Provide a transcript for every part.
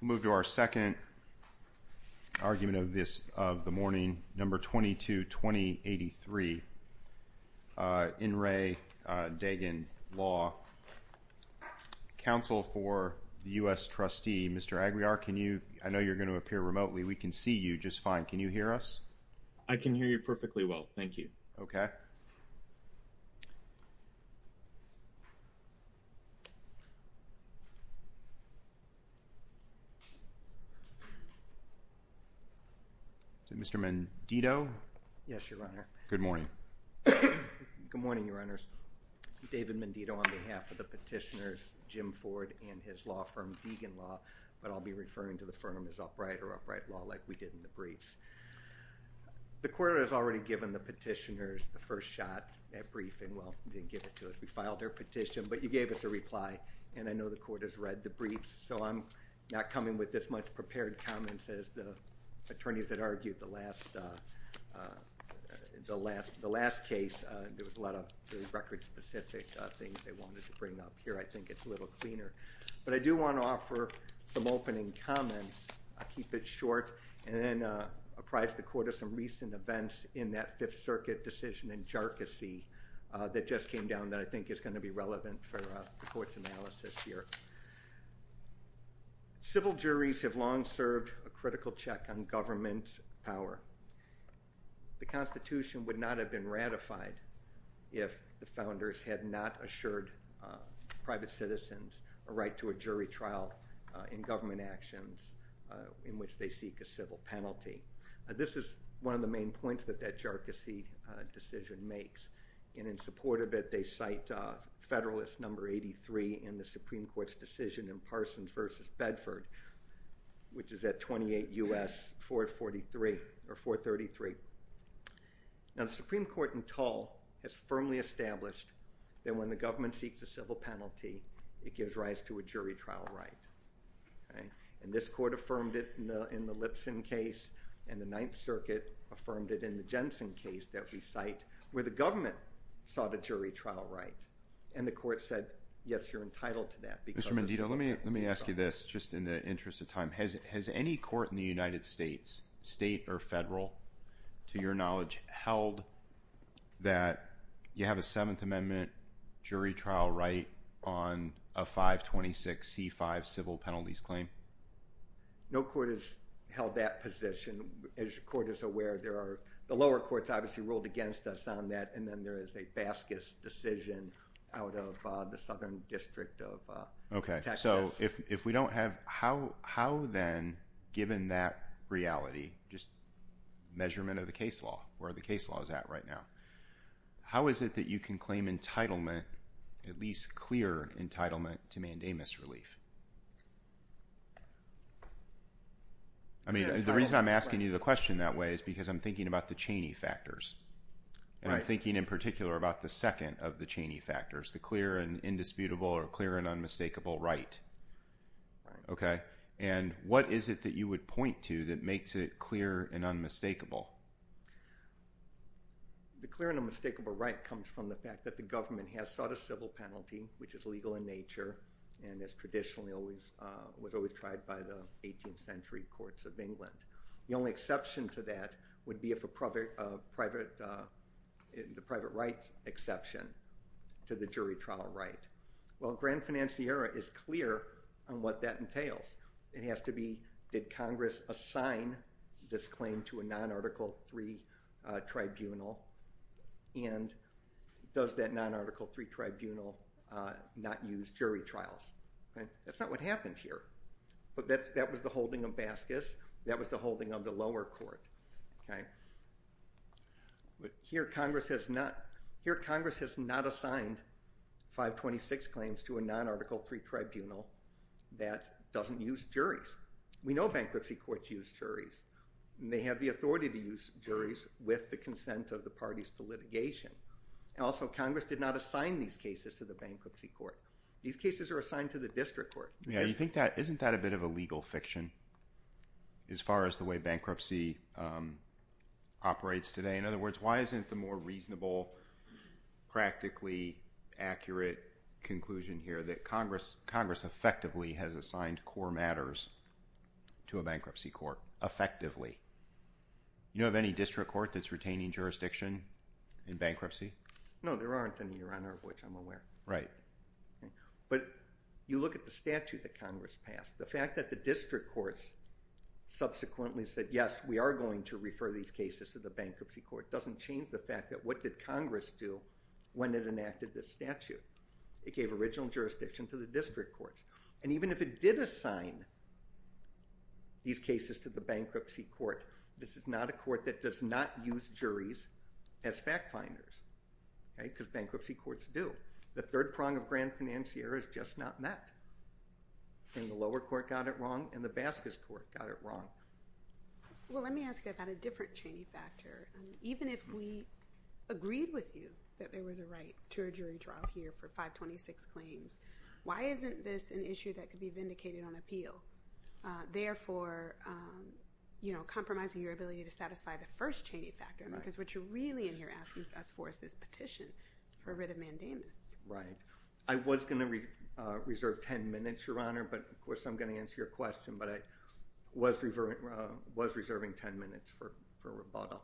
moved to our second argument of this of the morning number 22 2083 in Ray Dagan law counsel for the U.S. trustee Mr. Aguiar can you I know you're going to appear remotely we can see you just fine can you hear us I can hear you perfectly well thank you okay so Mr. Mendito yes your honor good morning good morning your honors David Mendito on behalf of the petitioners Jim Ford and his law firm Deegan law but I'll be referring to the firm is upright or upright law like we did in the briefs the court has already given the petitioners the first shot at briefing well didn't get it to us we filed their petition but you gave us a reply and I know the court has read the briefs so I'm not coming with this much prepared comments as the attorneys that argued the last the last the last case there was a lot of record-specific things they wanted to bring up here I think it's a little cleaner but I do want to offer some opening comments I'll keep it short and then apprise the court of some recent events in that Fifth Circuit decision and jargons see that just came down that I think is going to be relevant for the court's analysis here civil juries have long served a critical check on government power the Constitution would not have been ratified if the founders had not assured private citizens a right to a jury trial in government actions in which they seek a civil penalty this is one of the main points that that jargons see decision makes and in support of it they cite Federalist number 83 in the Supreme Court's decision in Parsons versus Bedford which is at 28 US 443 or 433 now the Supreme Court in tall has firmly established that when the government seeks a civil penalty it gives rise to a jury trial right and this court affirmed it in the Lipson case and the Ninth Circuit affirmed it in the Jensen case that we cite where the government sought a jury trial right and the court said yes you're entitled to that because Mandita let me let me ask you this just in the interest of time has any court in the United States state or federal to your knowledge held that you have a penalties claim no court has held that position as your court is aware there are the lower courts obviously ruled against us on that and then there is a bascus decision out of the Southern District of okay so if we don't have how how then given that reality just measurement of the case law where the case law is at right now how is it that you can claim entitlement at least clear entitlement to mandamus relief I mean the reason I'm asking you the question that way is because I'm thinking about the Cheney factors and I'm thinking in particular about the second of the Cheney factors the clear and indisputable or clear and unmistakable right okay and what is it that you would point to that makes it clear and unmistakable the clear and unmistakable right comes from the fact that the government has sought a civil penalty which is legal in nature and as traditionally always was always tried by the 18th century courts of England the only exception to that would be if a private of private in the private rights exception to the jury trial right well grand financier is clear on what that entails it has to be did Congress assign this claim to a non-article three tribunal and does that non-article three tribunal not use jury trials that's not what happened here but that's that was the holding of Baskis that was the holding of the lower court okay but here Congress has not here Congress has not assigned 526 claims to a non-article three tribunal that doesn't use juries we know bankruptcy courts use juries they have the authority to use juries with the consent of the parties to litigation and also Congress did not assign these cases to the bankruptcy court these cases are assigned to the district court yeah you think that isn't that a bit of a legal fiction as far as the way bankruptcy operates today in other words why isn't the more reasonable practically accurate conclusion here that Congress Congress effectively has assigned core matters to a bankruptcy court effectively you know of any district court that's retaining jurisdiction in bankruptcy no there aren't in your honor of which I'm aware right but you look at the statute that Congress passed the fact that the district courts subsequently said yes we are going to refer these cases to the bankruptcy court doesn't change the fact that what did Congress do when it enacted this statute it gave original jurisdiction to the district courts and even if it did assign these cases to the bankruptcy court this is not a court that does not use juries as fact-finders right because bankruptcy courts do the third prong of grand financier is just not met and the lower court got it wrong and the Bascus court got it wrong well let me ask you about a different chain factor even if we agreed with you that why isn't this an issue that could be vindicated on appeal therefore you know compromising your ability to satisfy the first chain factor because what you're really in here asking us for is this petition for writ of mandamus right I was gonna reserve ten minutes your honor but of course I'm gonna answer your question but I was referring was reserving ten minutes for for rebuttal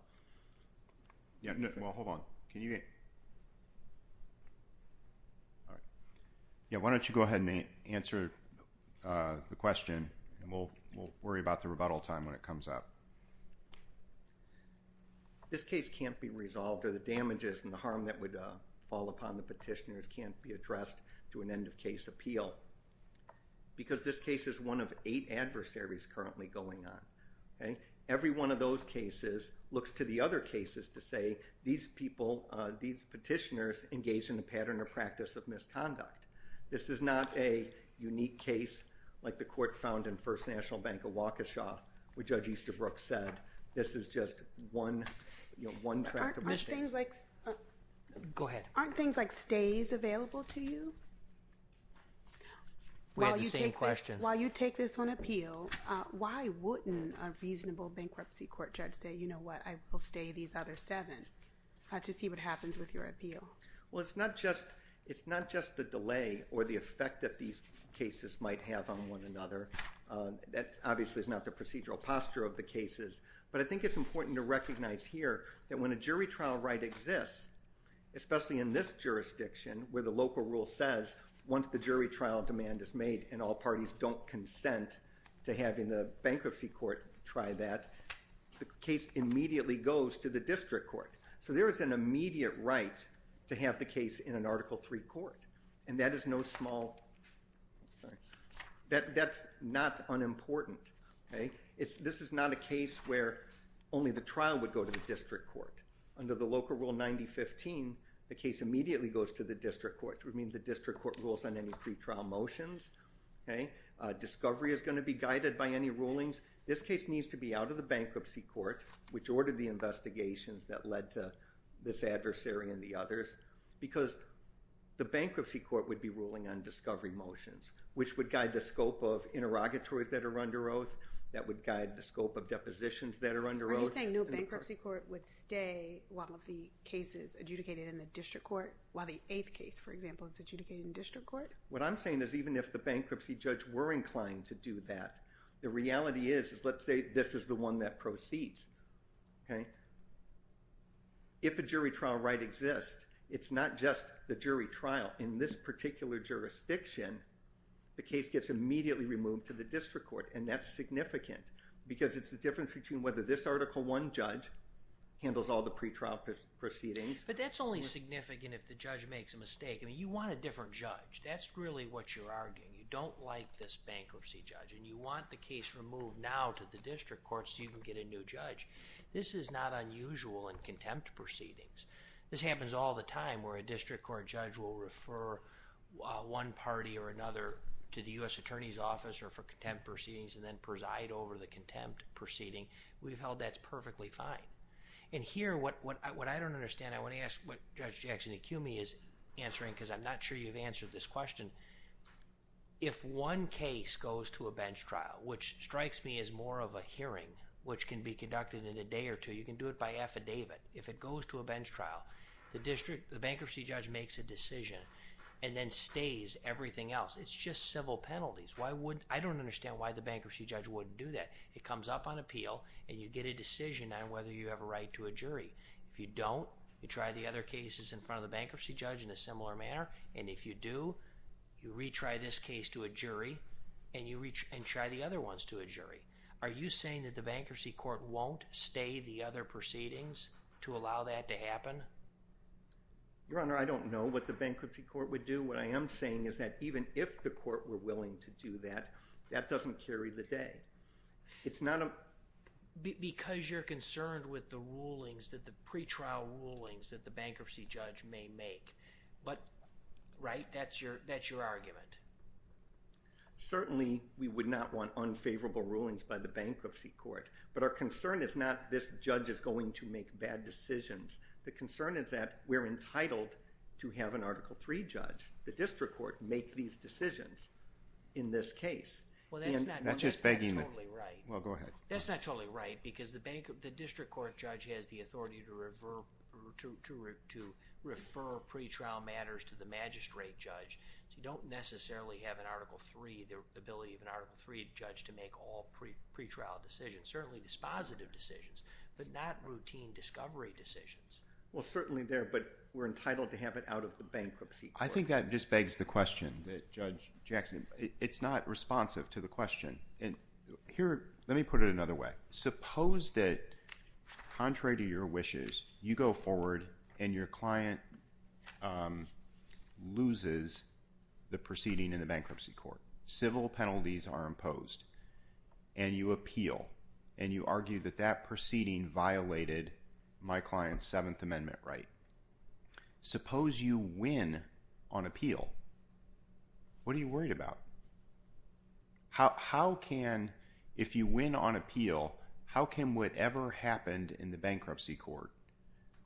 yeah well hold on can you get yeah why don't you go ahead and answer the question and we'll worry about the rebuttal time when it comes up this case can't be resolved or the damages and the harm that would fall upon the petitioners can't be addressed to an end of case appeal because this case is one of eight adversaries currently going on okay every one of those cases looks to the other cases to say these people these petitioners engage in a pattern of practice of misconduct this is not a unique case like the court found in First National Bank of Waukesha where judge Easterbrook said this is just one you know one track of mistakes. Go ahead. Aren't things like stays available to you? We had the same question. While you take this on appeal why wouldn't a these other seven to see what happens with your appeal? Well it's not just it's not just the delay or the effect that these cases might have on one another that obviously is not the procedural posture of the cases but I think it's important to recognize here that when a jury trial right exists especially in this jurisdiction where the local rule says once the jury trial demand is made and all parties don't consent to having the bankruptcy court try that the case immediately goes to the district court so there is an immediate right to have the case in an article 3 court and that is no small that that's not unimportant okay it's this is not a case where only the trial would go to the district court under the local rule 9015 the case immediately goes to the district court would mean the district court rules on any pretrial motions okay discovery is going to be guided by any rulings this case needs to be out of the bankruptcy court which ordered the investigations that led to this adversary and the others because the bankruptcy court would be ruling on discovery motions which would guide the scope of interrogatory that are under oath that would guide the scope of depositions that are under oath bankruptcy court would stay one of the cases adjudicated in the district court while the eighth case for example is adjudicated in district court what I'm saying is even if the bankruptcy judge were inclined to do that the reality is let's say this is the one that proceeds okay if a jury trial right exists it's not just the jury trial in this particular jurisdiction the case gets immediately removed to the district court and that's significant because it's the difference between whether this article one judge handles all the pretrial proceedings but that's only significant if the judge makes a mistake I mean you want a different judge that's really what you're arguing you don't like this district court so you can get a new judge this is not unusual in contempt proceedings this happens all the time where a district court judge will refer one party or another to the US Attorney's Office or for contempt proceedings and then preside over the contempt proceeding we've held that's perfectly fine and here what what I don't understand I want to ask what judge Jackson Acumi is answering because I'm not sure you've answered this question if one case goes to a bench trial which strikes me as more of a hearing which can be conducted in a day or two you can do it by affidavit if it goes to a bench trial the district the bankruptcy judge makes a decision and then stays everything else it's just civil penalties why would I don't understand why the bankruptcy judge wouldn't do that it comes up on appeal and you get a decision on whether you have a right to a jury if you don't you try the other cases in front of the bankruptcy judge in a similar manner and if you do you retry this case to a jury and you reach and try the other ones to a jury are you saying that the bankruptcy court won't stay the other proceedings to allow that to happen your honor I don't know what the bankruptcy court would do what I am saying is that even if the court were willing to do that that doesn't carry the day it's not a because you're concerned with the rulings that the pretrial rulings that the bankruptcy judge may make but right that's your that's your argument certainly we would not want unfavorable rulings by the bankruptcy court but our concern is not this judge is going to make bad decisions the concern is that we're entitled to have an article 3 judge the district court make these decisions in this case well that's not that's just begging right well go ahead that's not totally right because the bank of the district court judge has the authority to refer to refer pretrial matters to the magistrate judge you don't necessarily have an article 3 the ability of an article 3 judge to make all pretrial decisions certainly dispositive decisions but not routine discovery decisions well certainly there but we're entitled to have it out of the bankruptcy I think that just begs the question that judge Jackson it's not responsive to the question and here let me put it another way suppose that contrary to your wishes you go forward and your client loses the proceeding in the bankruptcy court civil penalties are imposed and you appeal and you argue that that proceeding violated my client's Seventh Amendment right suppose you win on appeal what are you worried about how can if you win on appeal how can whatever happened in the bankruptcy court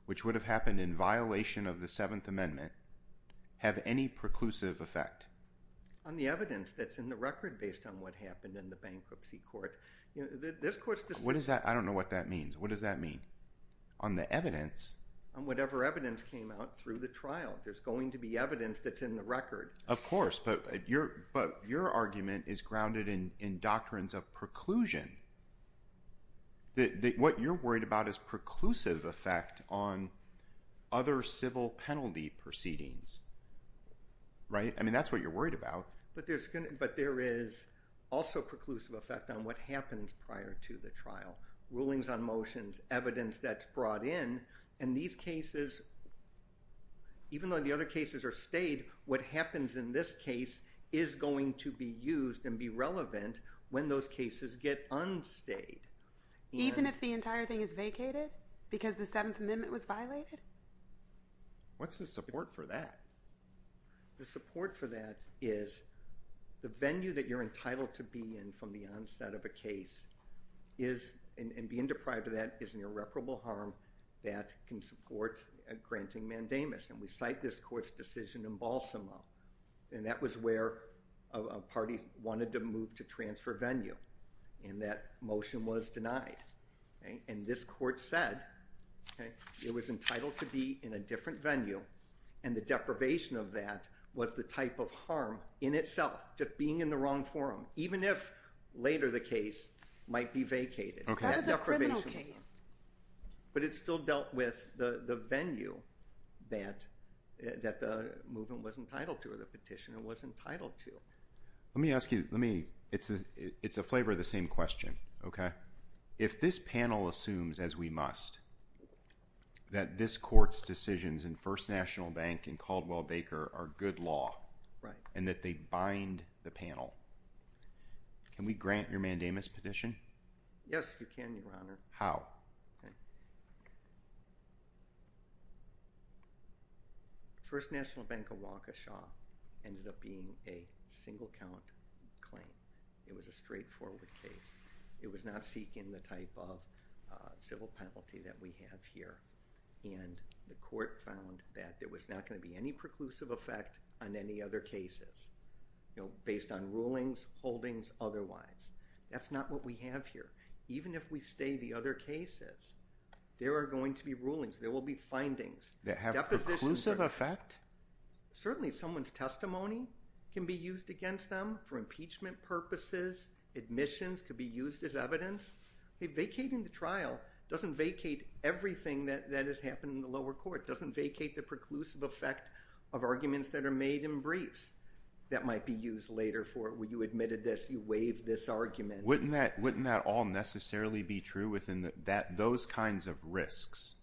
which would have happened in violation of the Seventh Amendment have any preclusive effect on the evidence that's in the record based on what happened in the bankruptcy court what is that I don't know what that means what does that mean on the evidence on whatever evidence came out through the trial there's going to be evidence that's in the record of course but your but your argument is grounded in in doctrines of preclusion that what you're about is preclusive effect on other civil penalty proceedings right I mean that's what you're worried about but there's gonna but there is also preclusive effect on what happens prior to the trial rulings on motions evidence that's brought in and these cases even though the other cases are stayed what happens in this case is going to be used and be relevant when those cases get unstayed even if the entire thing is vacated because the Seventh Amendment was violated what's the support for that the support for that is the venue that you're entitled to be in from the onset of a case is and being deprived of that is an irreparable harm that can support a granting mandamus and we cite this court's decision in Balsamo and that was where a party wanted to move to transfer venue and that motion was denied and this court said it was entitled to be in a different venue and the deprivation of that what's the type of harm in itself just being in the wrong forum even if later the case might be vacated okay deprivation case but it still dealt with the the venue that that the movement was entitled to or the petitioner was entitled to let me ask you let me it's a it's a flavor of the same question okay if this panel assumes as we must that this court's decisions in First National Bank and Caldwell Baker are good law right and that they bind the panel can we grant your mandamus petition yes you can your honor how okay First National Bank of Waukesha ended up being a single count claim it was a straightforward case it was not seeking the type of civil penalty that we have here and the court found that there was not going to be any preclusive effect on any other cases you know based on rulings holdings otherwise that's not what we have here even if we stay the other cases there are going to be rulings there will be findings that have a positive effect certainly someone's testimony can be used against them for impeachment purposes admissions could be used as evidence vacating the trial doesn't vacate everything that that has happened in the lower court doesn't vacate the preclusive effect of arguments that are made in briefs that might be used later for it when you wouldn't that all necessarily be true within that those kinds of risks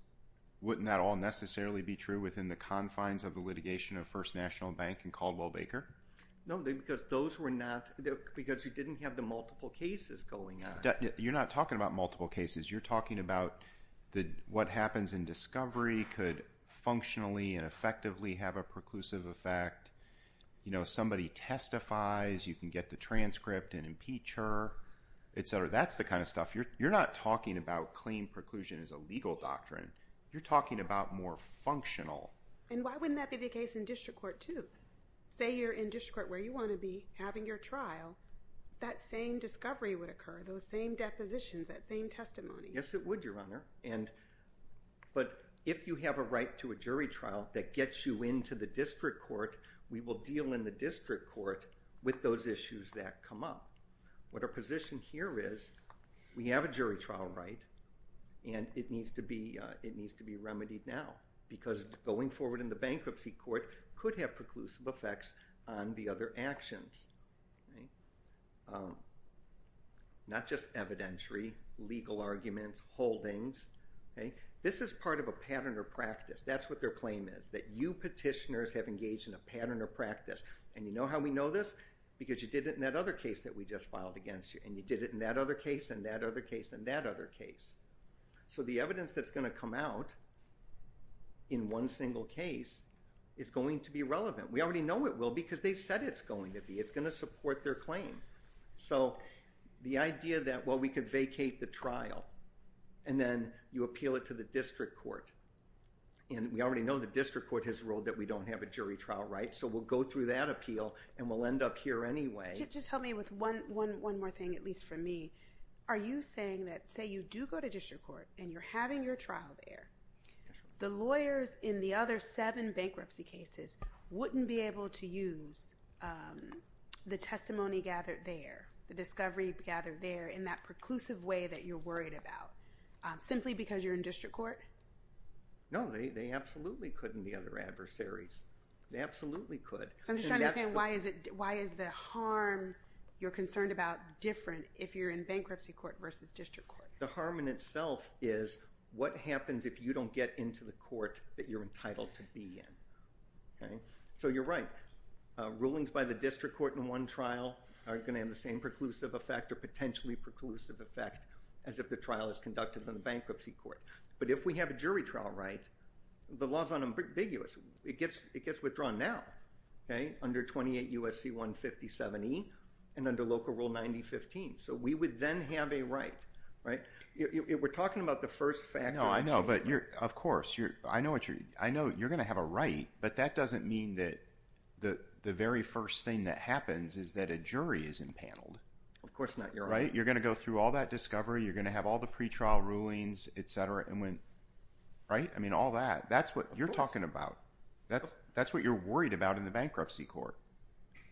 wouldn't that all necessarily be true within the confines of the litigation of First National Bank and Caldwell Baker no because those were not there because you didn't have the multiple cases going on you're not talking about multiple cases you're talking about the what happens in discovery could functionally and effectively have a preclusive effect you know somebody testifies you can get the transcript and impeach her etc that's the kind of stuff you're you're not talking about claim preclusion is a legal doctrine you're talking about more functional and why wouldn't that be the case in district court to say you're in district where you want to be having your trial that same discovery would occur those same depositions that same testimony yes it would your honor and but if you have a right to a jury trial that gets you into the district court we will deal in the district court with those issues that come up what our position here is we have a jury trial right and it needs to be it needs to be remedied now because going forward in the bankruptcy court could have preclusive effects on the other actions not just evidentiary legal arguments holdings okay this is part of a pattern or practice that's what their claim is that you petitioners have engaged in a pattern or practice and you know how we know this because you did it in that other case that we just filed against you and you did it in that other case and that other case and that other case so the evidence that's going to come out in one single case is going to be relevant we already know it will because they said it's going to be it's going to support their claim so the idea that what we could vacate the trial and then you appeal it to the district court and we already know the district court has ruled that we don't have a jury trial right so we'll go through that appeal and we'll end up here anyway just help me with one one one more thing at least for me are you saying that say you do go to district court and you're having your trial there the lawyers in the other seven bankruptcy cases wouldn't be able to use the testimony gathered there the discovery gathered there in that preclusive way that you're worried about simply because you're in district court no they absolutely couldn't the other adversaries they absolutely could so I'm just saying why is it why is the harm you're concerned about different if you're in bankruptcy court versus district court the harm in itself is what happens if you don't get into the court that you're entitled to be in okay so you're right rulings by the district court in one trial are going to have the same preclusive effect or potentially preclusive effect as if the trial is conducted in the bankruptcy court but if we have a jury trial right the laws on ambiguous it gets it gets withdrawn now okay under 28 USC 157 e and under local rule 90 15 so we would then have a right right we're talking about the first fact no I know but you're of course you're I know what you're I know you're gonna have a right but that doesn't mean that the the very first thing that happens is that a jury is impaneled of course not you're right you're gonna go through all that discovery you're gonna have all the right I mean all that that's what you're talking about that's that's what you're worried about in the bankruptcy court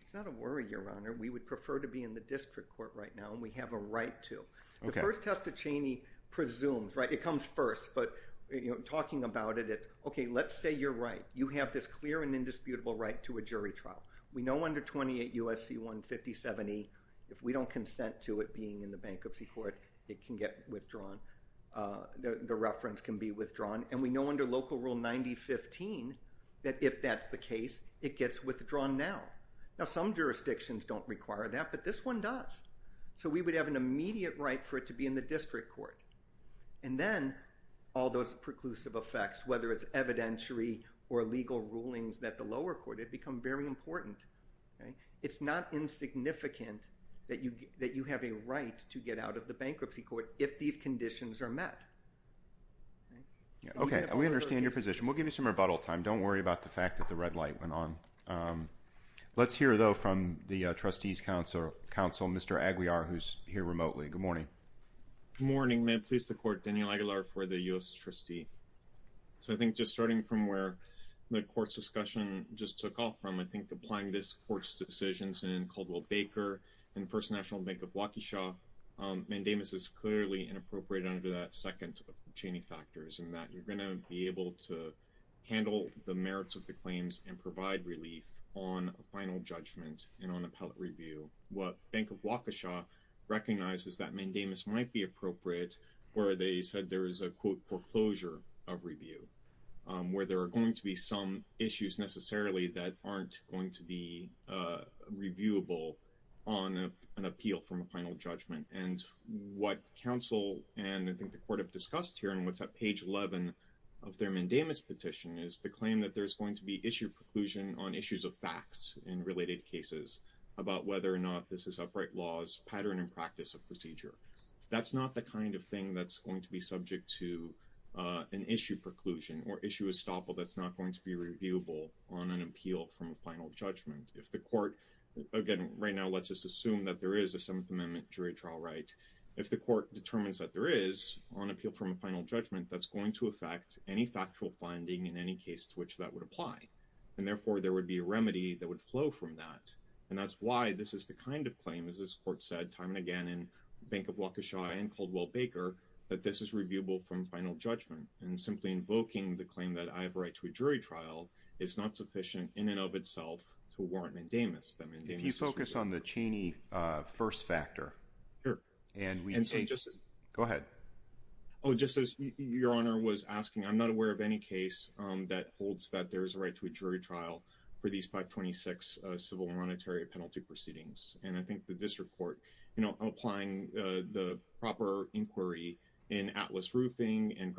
it's not a worry your honor we would prefer to be in the district court right now and we have a right to the first test of Cheney presumes right it comes first but you know talking about it it okay let's say you're right you have this clear and indisputable right to a jury trial we know under 28 USC 150 70 if we don't consent to it being in the withdrawn and we know under local rule 90 15 that if that's the case it gets withdrawn now now some jurisdictions don't require that but this one does so we would have an immediate right for it to be in the district court and then all those preclusive effects whether it's evidentiary or legal rulings that the lower court it become very important it's not insignificant that you that you have a right to get out of the bankruptcy court if these conditions are met okay we understand your position we'll give you some rebuttal time don't worry about the fact that the red light went on let's hear though from the trustees council council mr. Aguiar who's here remotely good morning morning may please the court Daniel Aguilar for the u.s. trustee so I think just starting from where the courts discussion just took off from I think applying this court's decisions in Caldwell Baker and First National Bank of Waukesha mandamus is clearly inappropriate under that second of the Cheney factors and that you're going to be able to handle the merits of the claims and provide relief on a final judgment and on appellate review what Bank of Waukesha recognizes that mandamus might be appropriate where they said there is a quote foreclosure of review where there are going to be some issues necessarily that aren't going to be reviewable on an appeal from a final judgment and what counsel and I think the court have discussed here and what's that page 11 of their mandamus petition is the claim that there's going to be issue preclusion on issues of facts in related cases about whether or not this is upright laws pattern and practice of procedure that's not the kind of thing that's going to be subject to an issue preclusion or issue a stop all that's an appeal from a final judgment if the court again right now let's just assume that there is a 7th Amendment jury trial right if the court determines that there is on appeal from a final judgment that's going to affect any factual finding in any case to which that would apply and therefore there would be a remedy that would flow from that and that's why this is the kind of claim as this court said time and again in Bank of Waukesha and Caldwell Baker that this is reviewable from final judgment and simply invoking the claim that I have a to a jury trial it's not sufficient in and of itself to warrant mandamus them if you focus on the Cheney first factor and we can say just go ahead oh just as your honor was asking I'm not aware of any case that holds that there is a right to a jury trial for these 526 civil and monetary penalty proceedings and I think the district court you know applying the proper inquiry in Atlas decision and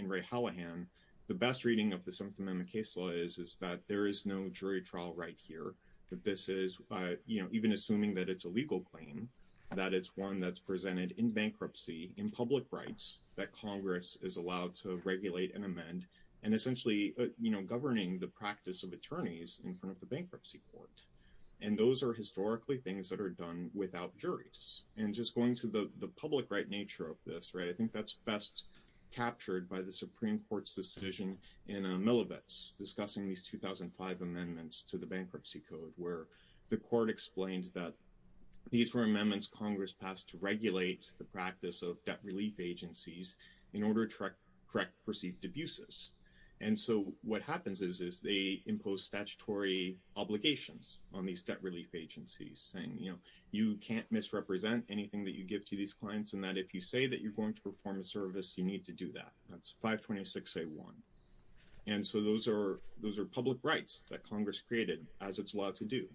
in Ray Hallahan the best reading of the 7th Amendment case law is is that there is no jury trial right here that this is you know even assuming that it's a legal claim that it's one that's presented in bankruptcy in public rights that Congress is allowed to regulate and amend and essentially you know governing the practice of attorneys in front of the bankruptcy court and those are historically things that are done without juries and just going to the public right nature of this right I think that's best captured by the Supreme Court's decision in a milibus discussing these 2005 amendments to the bankruptcy code where the court explained that these were amendments Congress passed to regulate the practice of debt relief agencies in order to correct perceived abuses and so what happens is is they impose statutory obligations on these debt relief agencies saying you know you can't misrepresent anything that you give to these clients and that if you say that you're going to perform a service you need to do that that's 526 a1 and so those are those are public rights that Congress created as it's allowed to do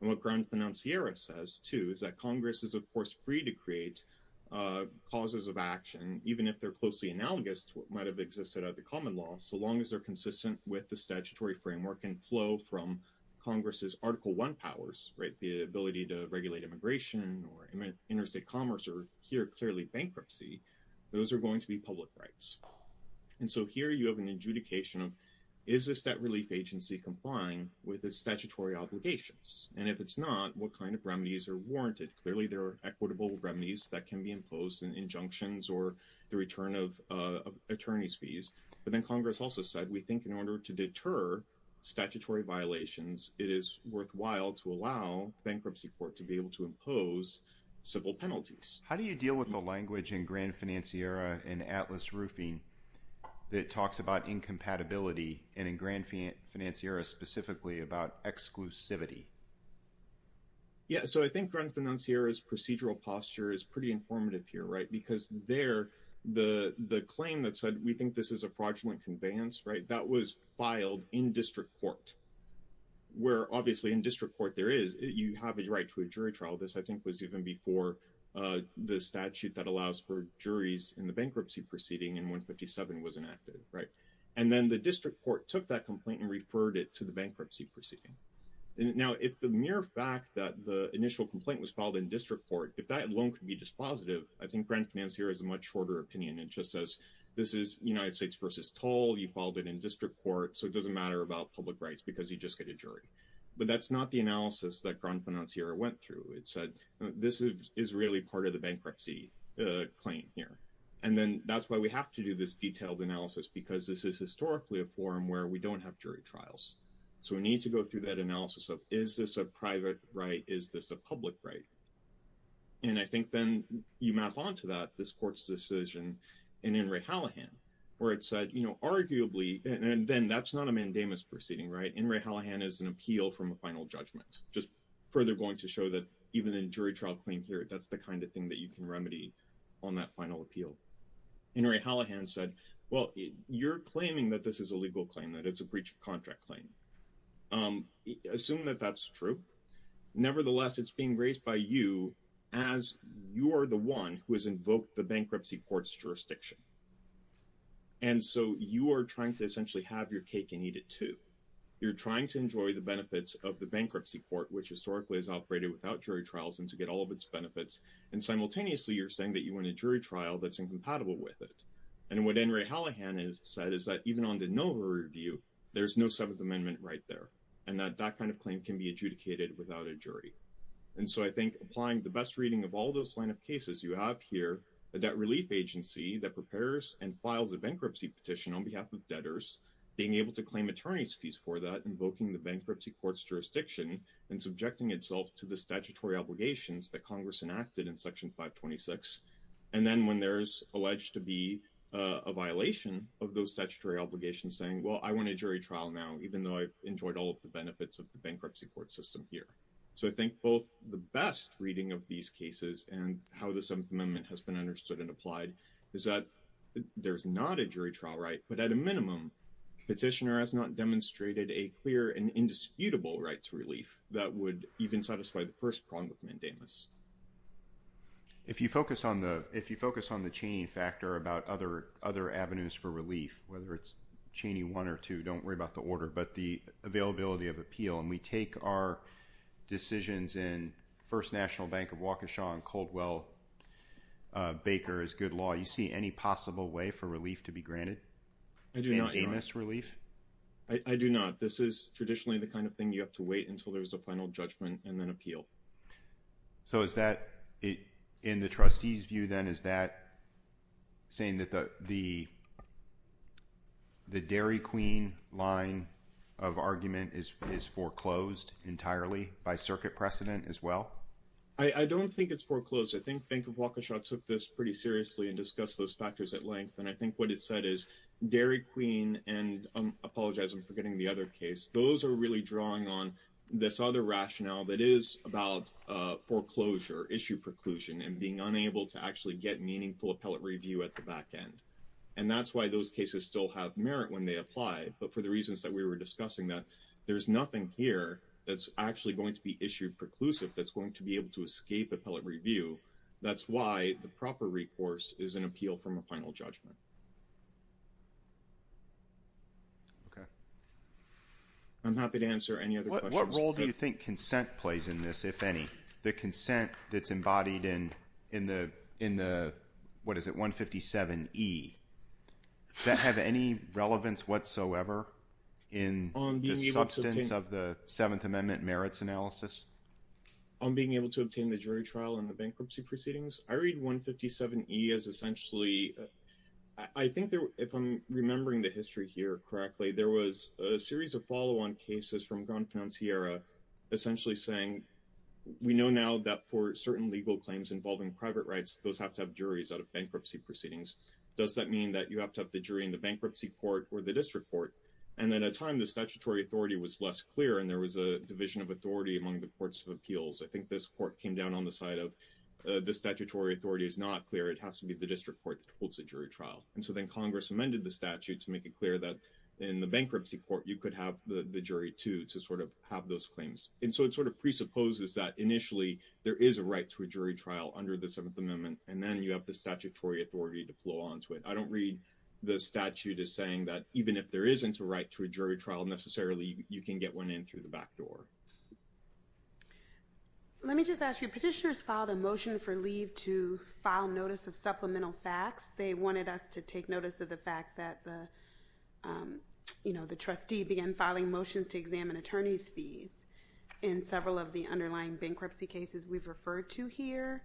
and what groundsman on Sierra says to is that Congress is of course free to create causes of action even if they're closely analogous to what might have existed at the common law so long as they're consistent with the statutory framework and flow from Congress's article one powers right the ability to interstate commerce or here clearly bankruptcy those are going to be public rights and so here you have an adjudication of is this that relief agency complying with the statutory obligations and if it's not what kind of remedies are warranted clearly there are equitable remedies that can be imposed in injunctions or the return of attorneys fees but then Congress also said we think in order to deter statutory violations it is worthwhile to impose civil penalties how do you deal with the language in Grand Financiera and Atlas roofing that talks about incompatibility and in Grand Financiera specifically about exclusivity yeah so I think runs the non Sierra's procedural posture is pretty informative here right because they're the the claim that said we think this is a fraudulent conveyance right that was filed in district court where obviously in district court there is you have a right to a jury trial this I think was even before the statute that allows for juries in the bankruptcy proceeding and 157 was enacted right and then the district court took that complaint and referred it to the bankruptcy proceeding now if the mere fact that the initial complaint was filed in district court if that loan could be dispositive I think grand finance here is a much shorter opinion and just as this is United States versus tall you followed it in district court so it doesn't matter about public rights because you just get a jury but that's not the analysis that grand financier went through it said this is really part of the bankruptcy claim here and then that's why we have to do this detailed analysis because this is historically a forum where we don't have jury trials so we need to go through that analysis of is this a private right is this a public right and I think then you map on to that this court's decision and in Ray Hallahan where it said you know arguably and then that's not a mandamus proceeding right in Ray Hallahan is an appeal from a final judgment just further going to show that even in jury trial claim here that's the kind of thing that you can remedy on that final appeal in Ray Hallahan said well you're claiming that this is a legal claim that it's a breach of contract claim assume that that's true nevertheless it's being raised by you as you're the one who has invoked the bankruptcy courts jurisdiction and so you are trying to essentially have your cake and eat it too you're trying to enjoy the benefits of the bankruptcy court which historically has operated without jury trials and to get all of its benefits and simultaneously you're saying that you want a jury trial that's incompatible with it and what in Ray Hallahan is said is that even on the Nova review there's no seventh amendment right there and that that kind of claim can be adjudicated without a jury and so I think applying the best reading of all those line of cases you have here a debt relief agency that prepares and files a bankruptcy petition on behalf of debtors being able to claim attorney's fees for that invoking the bankruptcy courts jurisdiction and subjecting itself to the statutory obligations that Congress enacted in section 526 and then when there's alleged to be a violation of those statutory obligations saying well I want a jury trial now even though I've enjoyed all of the benefits of the bankruptcy court system here so I think both the best reading of these cases and how the seventh amendment has been understood and applied is that there's not a jury trial right but at a minimum petitioner has not demonstrated a clear and indisputable right to relief that would even satisfy the first prong with mandamus if you focus on the if you focus on the chain factor about other other avenues for relief whether it's Cheney one or two don't worry about the order but the availability of appeal and we take our decisions in First National Bank of Waukesha and Caldwell Baker is good law you see any possible way for relief to be granted I do not a miss relief I do not this is traditionally the kind of thing you have to wait until there's a final judgment and then appeal so is that it in the trustees view then is that saying that the the the Dairy Queen line of argument is foreclosed entirely by circuit precedent as well I don't think it's foreclosed I think Bank of Waukesha took this pretty seriously and discuss those factors at length and I think what it said is Dairy Queen and apologize I'm forgetting the other case those are really drawing on this other rationale that is about foreclosure issue preclusion and being unable to actually get meaningful appellate review at the back end and that's why those cases still have merit when they apply but for the reasons that we were discussing that there's nothing here that's actually going to be issued preclusive that's going to be able to escape appellate review that's why the proper recourse is an appeal from a final judgment okay I'm happy to answer any other role do you think consent plays in this if any the consent that's embodied in in the in the what is it 157 e that have any relevance whatsoever in the Seventh Amendment merits analysis I'm being able to obtain the jury trial in the bankruptcy proceedings I read 157 e as essentially I think there if I'm remembering the history here correctly there was a series of follow-on cases from gone fancy era essentially saying we know now that for certain legal claims involving private rights those have to have juries out of bankruptcy proceedings does that mean that you have to have the jury in the bankruptcy court or the district court and then a time the statutory authority was less clear and there was a division of authority among the courts of appeals I think this court came down on the side of the statutory authority is not clear it has to be the district court holds a jury trial and so then Congress amended the statute to make it clear that in the bankruptcy court you could have the jury to to sort of have those claims and so it sort of presupposes that initially there is a right to a jury trial under the Seventh Amendment and then you have the statutory authority to flow on to it I don't read the statute as saying that even if there isn't a right to a jury trial necessarily you can get one in through the back door let me just ask you petitioners filed a motion for leave to file notice of supplemental facts they wanted us to take notice of the fact that the you know the trustee began filing motions to examine attorneys fees in several of the underlying bankruptcy cases we've referred to here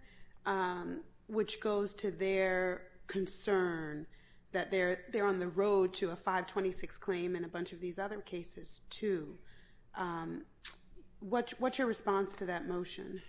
which goes to their concern that they're they're on the road to a 526 claim and a bunch of these other cases to what's what's your response to that motion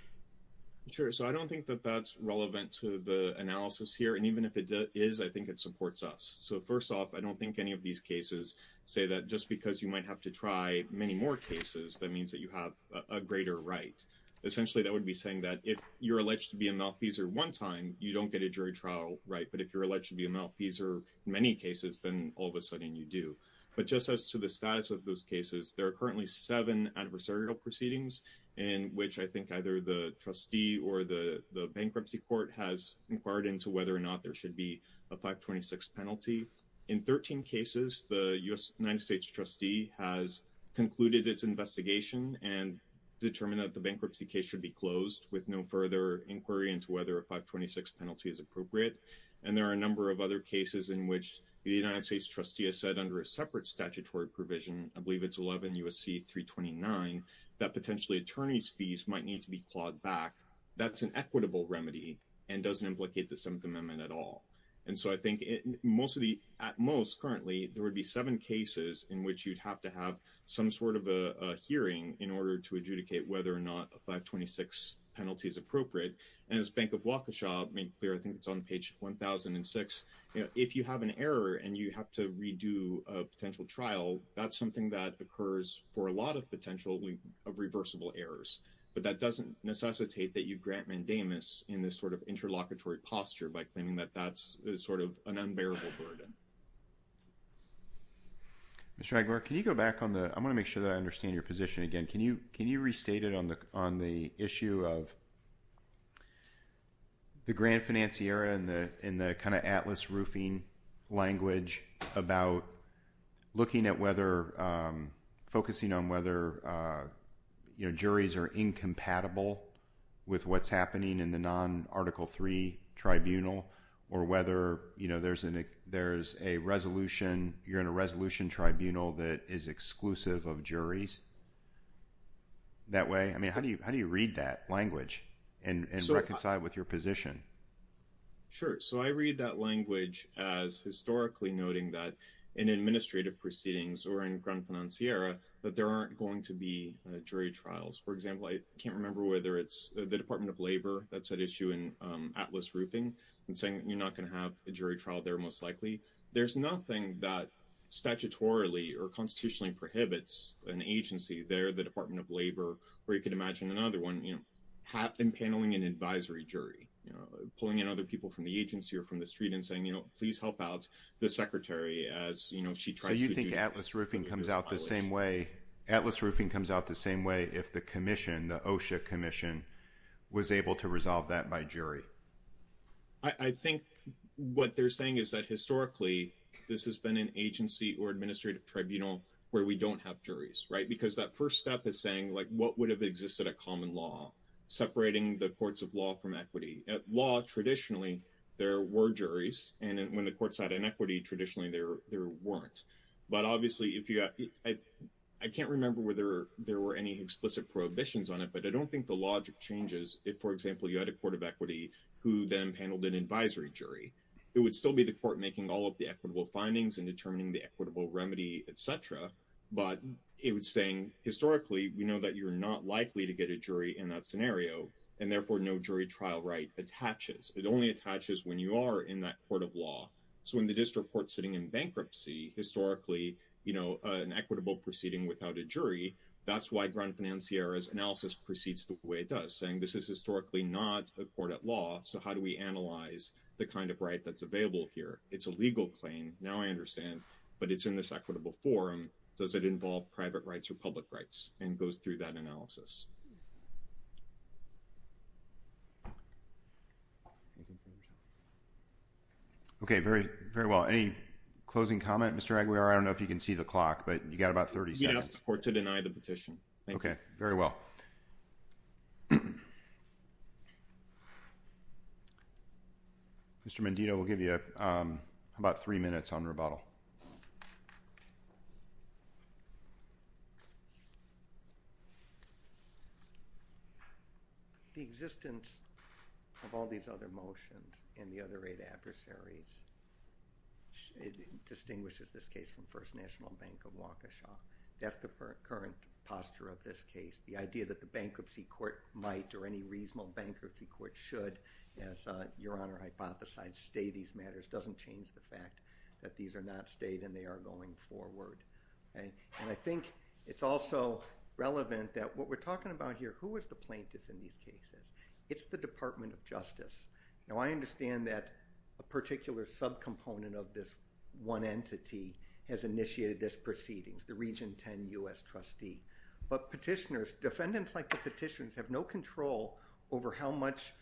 sure so I don't think that that's relevant to the analysis here and even if it is I think it supports us so first off I don't think any of these cases say that just because you might have to try many more cases that means that you have a greater right essentially that would be saying that if you're alleged to be a malfeasor one time you don't get a jury trial right but if you're alleged to be a malfeasor in many cases then all of a sudden you do but just as to the status of those cases there are currently seven adversarial proceedings in which I think either the trustee or the the bankruptcy court has inquired into whether or not there should be a 526 penalty in 13 cases the United States trustee has concluded its investigation and determined that the bankruptcy case should be closed with no further inquiry into whether a 526 penalty is appropriate and there are a number of other cases in which the United States trustee has said under a separate statutory provision I believe it's 11 USC 329 that potentially attorneys fees might need to be clawed back that's an equitable remedy and doesn't implicate the 7th Amendment at all and so I think it mostly at most currently there would be seven cases in which you'd have to hearing in order to adjudicate whether or not a 526 penalty is appropriate and as Bank of Waukesha made clear I think it's on page 1006 you know if you have an error and you have to redo a potential trial that's something that occurs for a lot of potentially of reversible errors but that doesn't necessitate that you grant mandamus in this sort of interlocutory posture by claiming that that's sort of an unbearable burden Mr. Aguirre can you go back on the I'm gonna make sure that I understand your position again can you can you restate it on the on the issue of the grand financier and the in the kind of Atlas roofing language about looking at whether focusing on whether you know juries are incompatible with what's happening in the non article three tribunal or whether you know there's an there's a resolution you're in a resolution tribunal that is exclusive of juries that way I mean how do you how do you read that language and reconcile with your position sure so I read that language as historically noting that in administrative proceedings or in grand financier that there aren't going to be jury trials for example I can't remember whether it's the Department of Labor that's at issue in Atlas roofing and saying you're not gonna have a jury trial they're most likely there's nothing that statutorily or constitutionally prohibits an agency they're the Department of Labor where you can imagine another one you know have been paneling an advisory jury you know pulling in other people from the agency or from the street and saying you know please help out the secretary as you know she tried you think Atlas roofing comes out the same way Atlas roofing comes out the same way if the Commission the OSHA Commission was able to resolve that by jury I think what they're saying is that historically this has been an agency or administrative tribunal where we don't have juries right because that first step is saying like what would have existed a common law separating the courts of law from equity law traditionally there were juries and when the courts had inequity traditionally there there weren't but obviously if you got I can't remember whether there were any explicit prohibitions on it but I don't think the logic changes if for example you had a court of equity who then handled an inequity in a court of law that would still be the court making all of the equitable findings and determining the equitable remedy etc but it was saying historically we know that you're not likely to get a jury in that scenario and therefore no jury trial right attaches it only attaches when you are in that court of law so in the district court sitting in bankruptcy historically you know an equitable proceeding without a jury that's why grand financier as analysis proceeds the way it does saying this is historically not a court at law so how do we analyze the kind of right that's available here it's a legal claim now I understand but it's in this equitable forum does it involve private rights or public rights and goes through that analysis okay very very well any closing comment mr. Aguiar I don't know if you can see the clock but you got about 30 yes or to deny the petition okay very well mr. Mendino will give you about three minutes on rebuttal the existence of all these other motions and the other eight adversaries distinguishes this case from First National Bank of Waukesha that's the current posture of this case the idea that the bankruptcy court might or any reasonable bankruptcy court should as your honor hypothesize stay these matters doesn't change the fact that these are not stayed and they are going forward and I think it's also relevant that what we're talking about here who is the plaintiff in these cases it's the Department of Justice now I understand that a particular subcomponent of this one entity has initiated this proceedings the region 10 US trustee but petitioners defendants like the petitions have no control over how much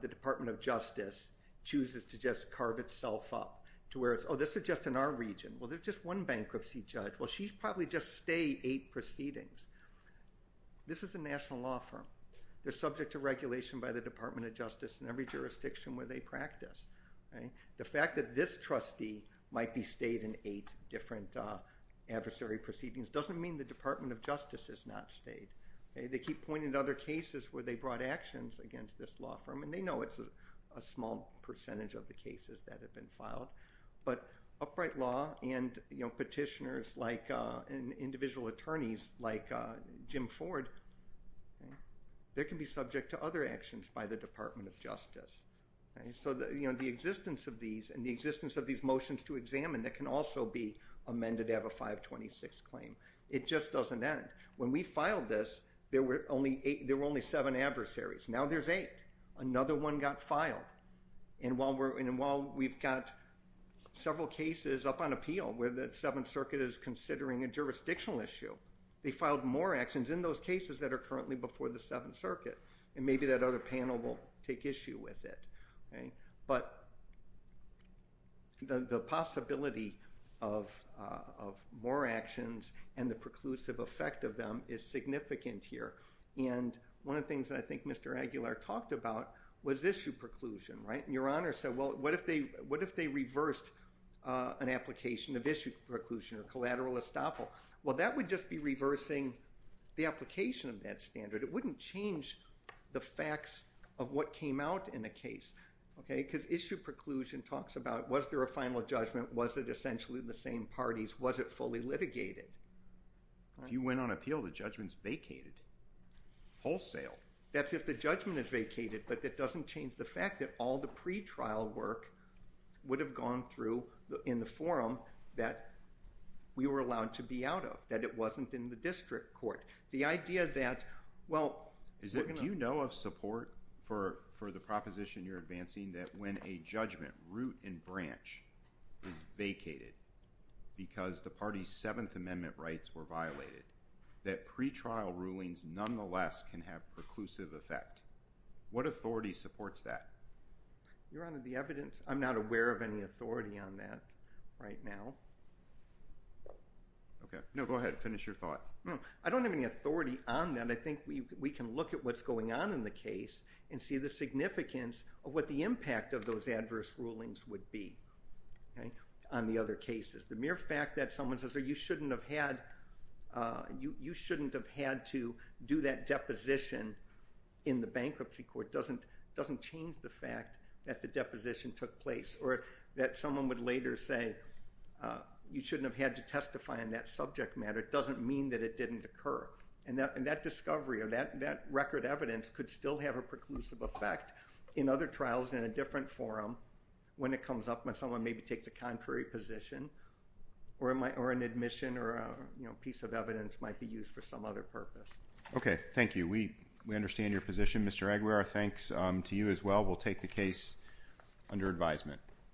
the Department of Justice chooses to just carve itself up to where it's oh this is just in our region well there's just one bankruptcy judge well she's probably just stay eight proceedings this is a national law firm they're subject to regulation by the Department of Justice in every jurisdiction where they practice right the fact that this proceedings doesn't mean the Department of Justice is not stayed they keep pointing to other cases where they brought actions against this law firm and they know it's a small percentage of the cases that have been filed but upright law and you know petitioners like an individual attorneys like Jim Ford there can be subject to other actions by the Department of Justice so that you know the existence of these and the existence of these motions to 26 claim it just doesn't end when we filed this there were only eight there were only seven adversaries now there's eight another one got filed and while we're in and while we've got several cases up on appeal where that Seventh Circuit is considering a jurisdictional issue they filed more actions in those cases that are currently before the Seventh Circuit and maybe that other and the preclusive effect of them is significant here and one of the things that I think mr. Aguilar talked about was issue preclusion right and your honor said well what if they what if they reversed an application of issue preclusion or collateral estoppel well that would just be reversing the application of that standard it wouldn't change the facts of what came out in a case okay because issue preclusion talks about was there a final judgment was it essentially the same parties was it fully litigated if you went on appeal the judgments vacated wholesale that's if the judgment is vacated but that doesn't change the fact that all the pretrial work would have gone through in the forum that we were allowed to be out of that it wasn't in the district court the idea that well is it do you know of support for for the proposition you're vacated because the party's Seventh Amendment rights were violated that pretrial rulings nonetheless can have preclusive effect what authority supports that your honor the evidence I'm not aware of any authority on that right now okay no go ahead finish your thought I don't have any authority on that I think we can look at what's going on in the case and see the significance of what the impact of those adverse rulings would be okay on the other cases the mere fact that someone says or you shouldn't have had you you shouldn't have had to do that deposition in the bankruptcy court doesn't doesn't change the fact that the deposition took place or that someone would later say you shouldn't have had to testify in that subject matter it doesn't mean that it didn't occur and that and that discovery or that that record evidence could still have a preclusive effect in other trials in a different forum when it comes up when someone maybe takes a contrary position or in my or an admission or a you know piece of evidence might be used for some other purpose okay thank you we we understand your position mr. Aguilar thanks to you as well we'll take the case under advisement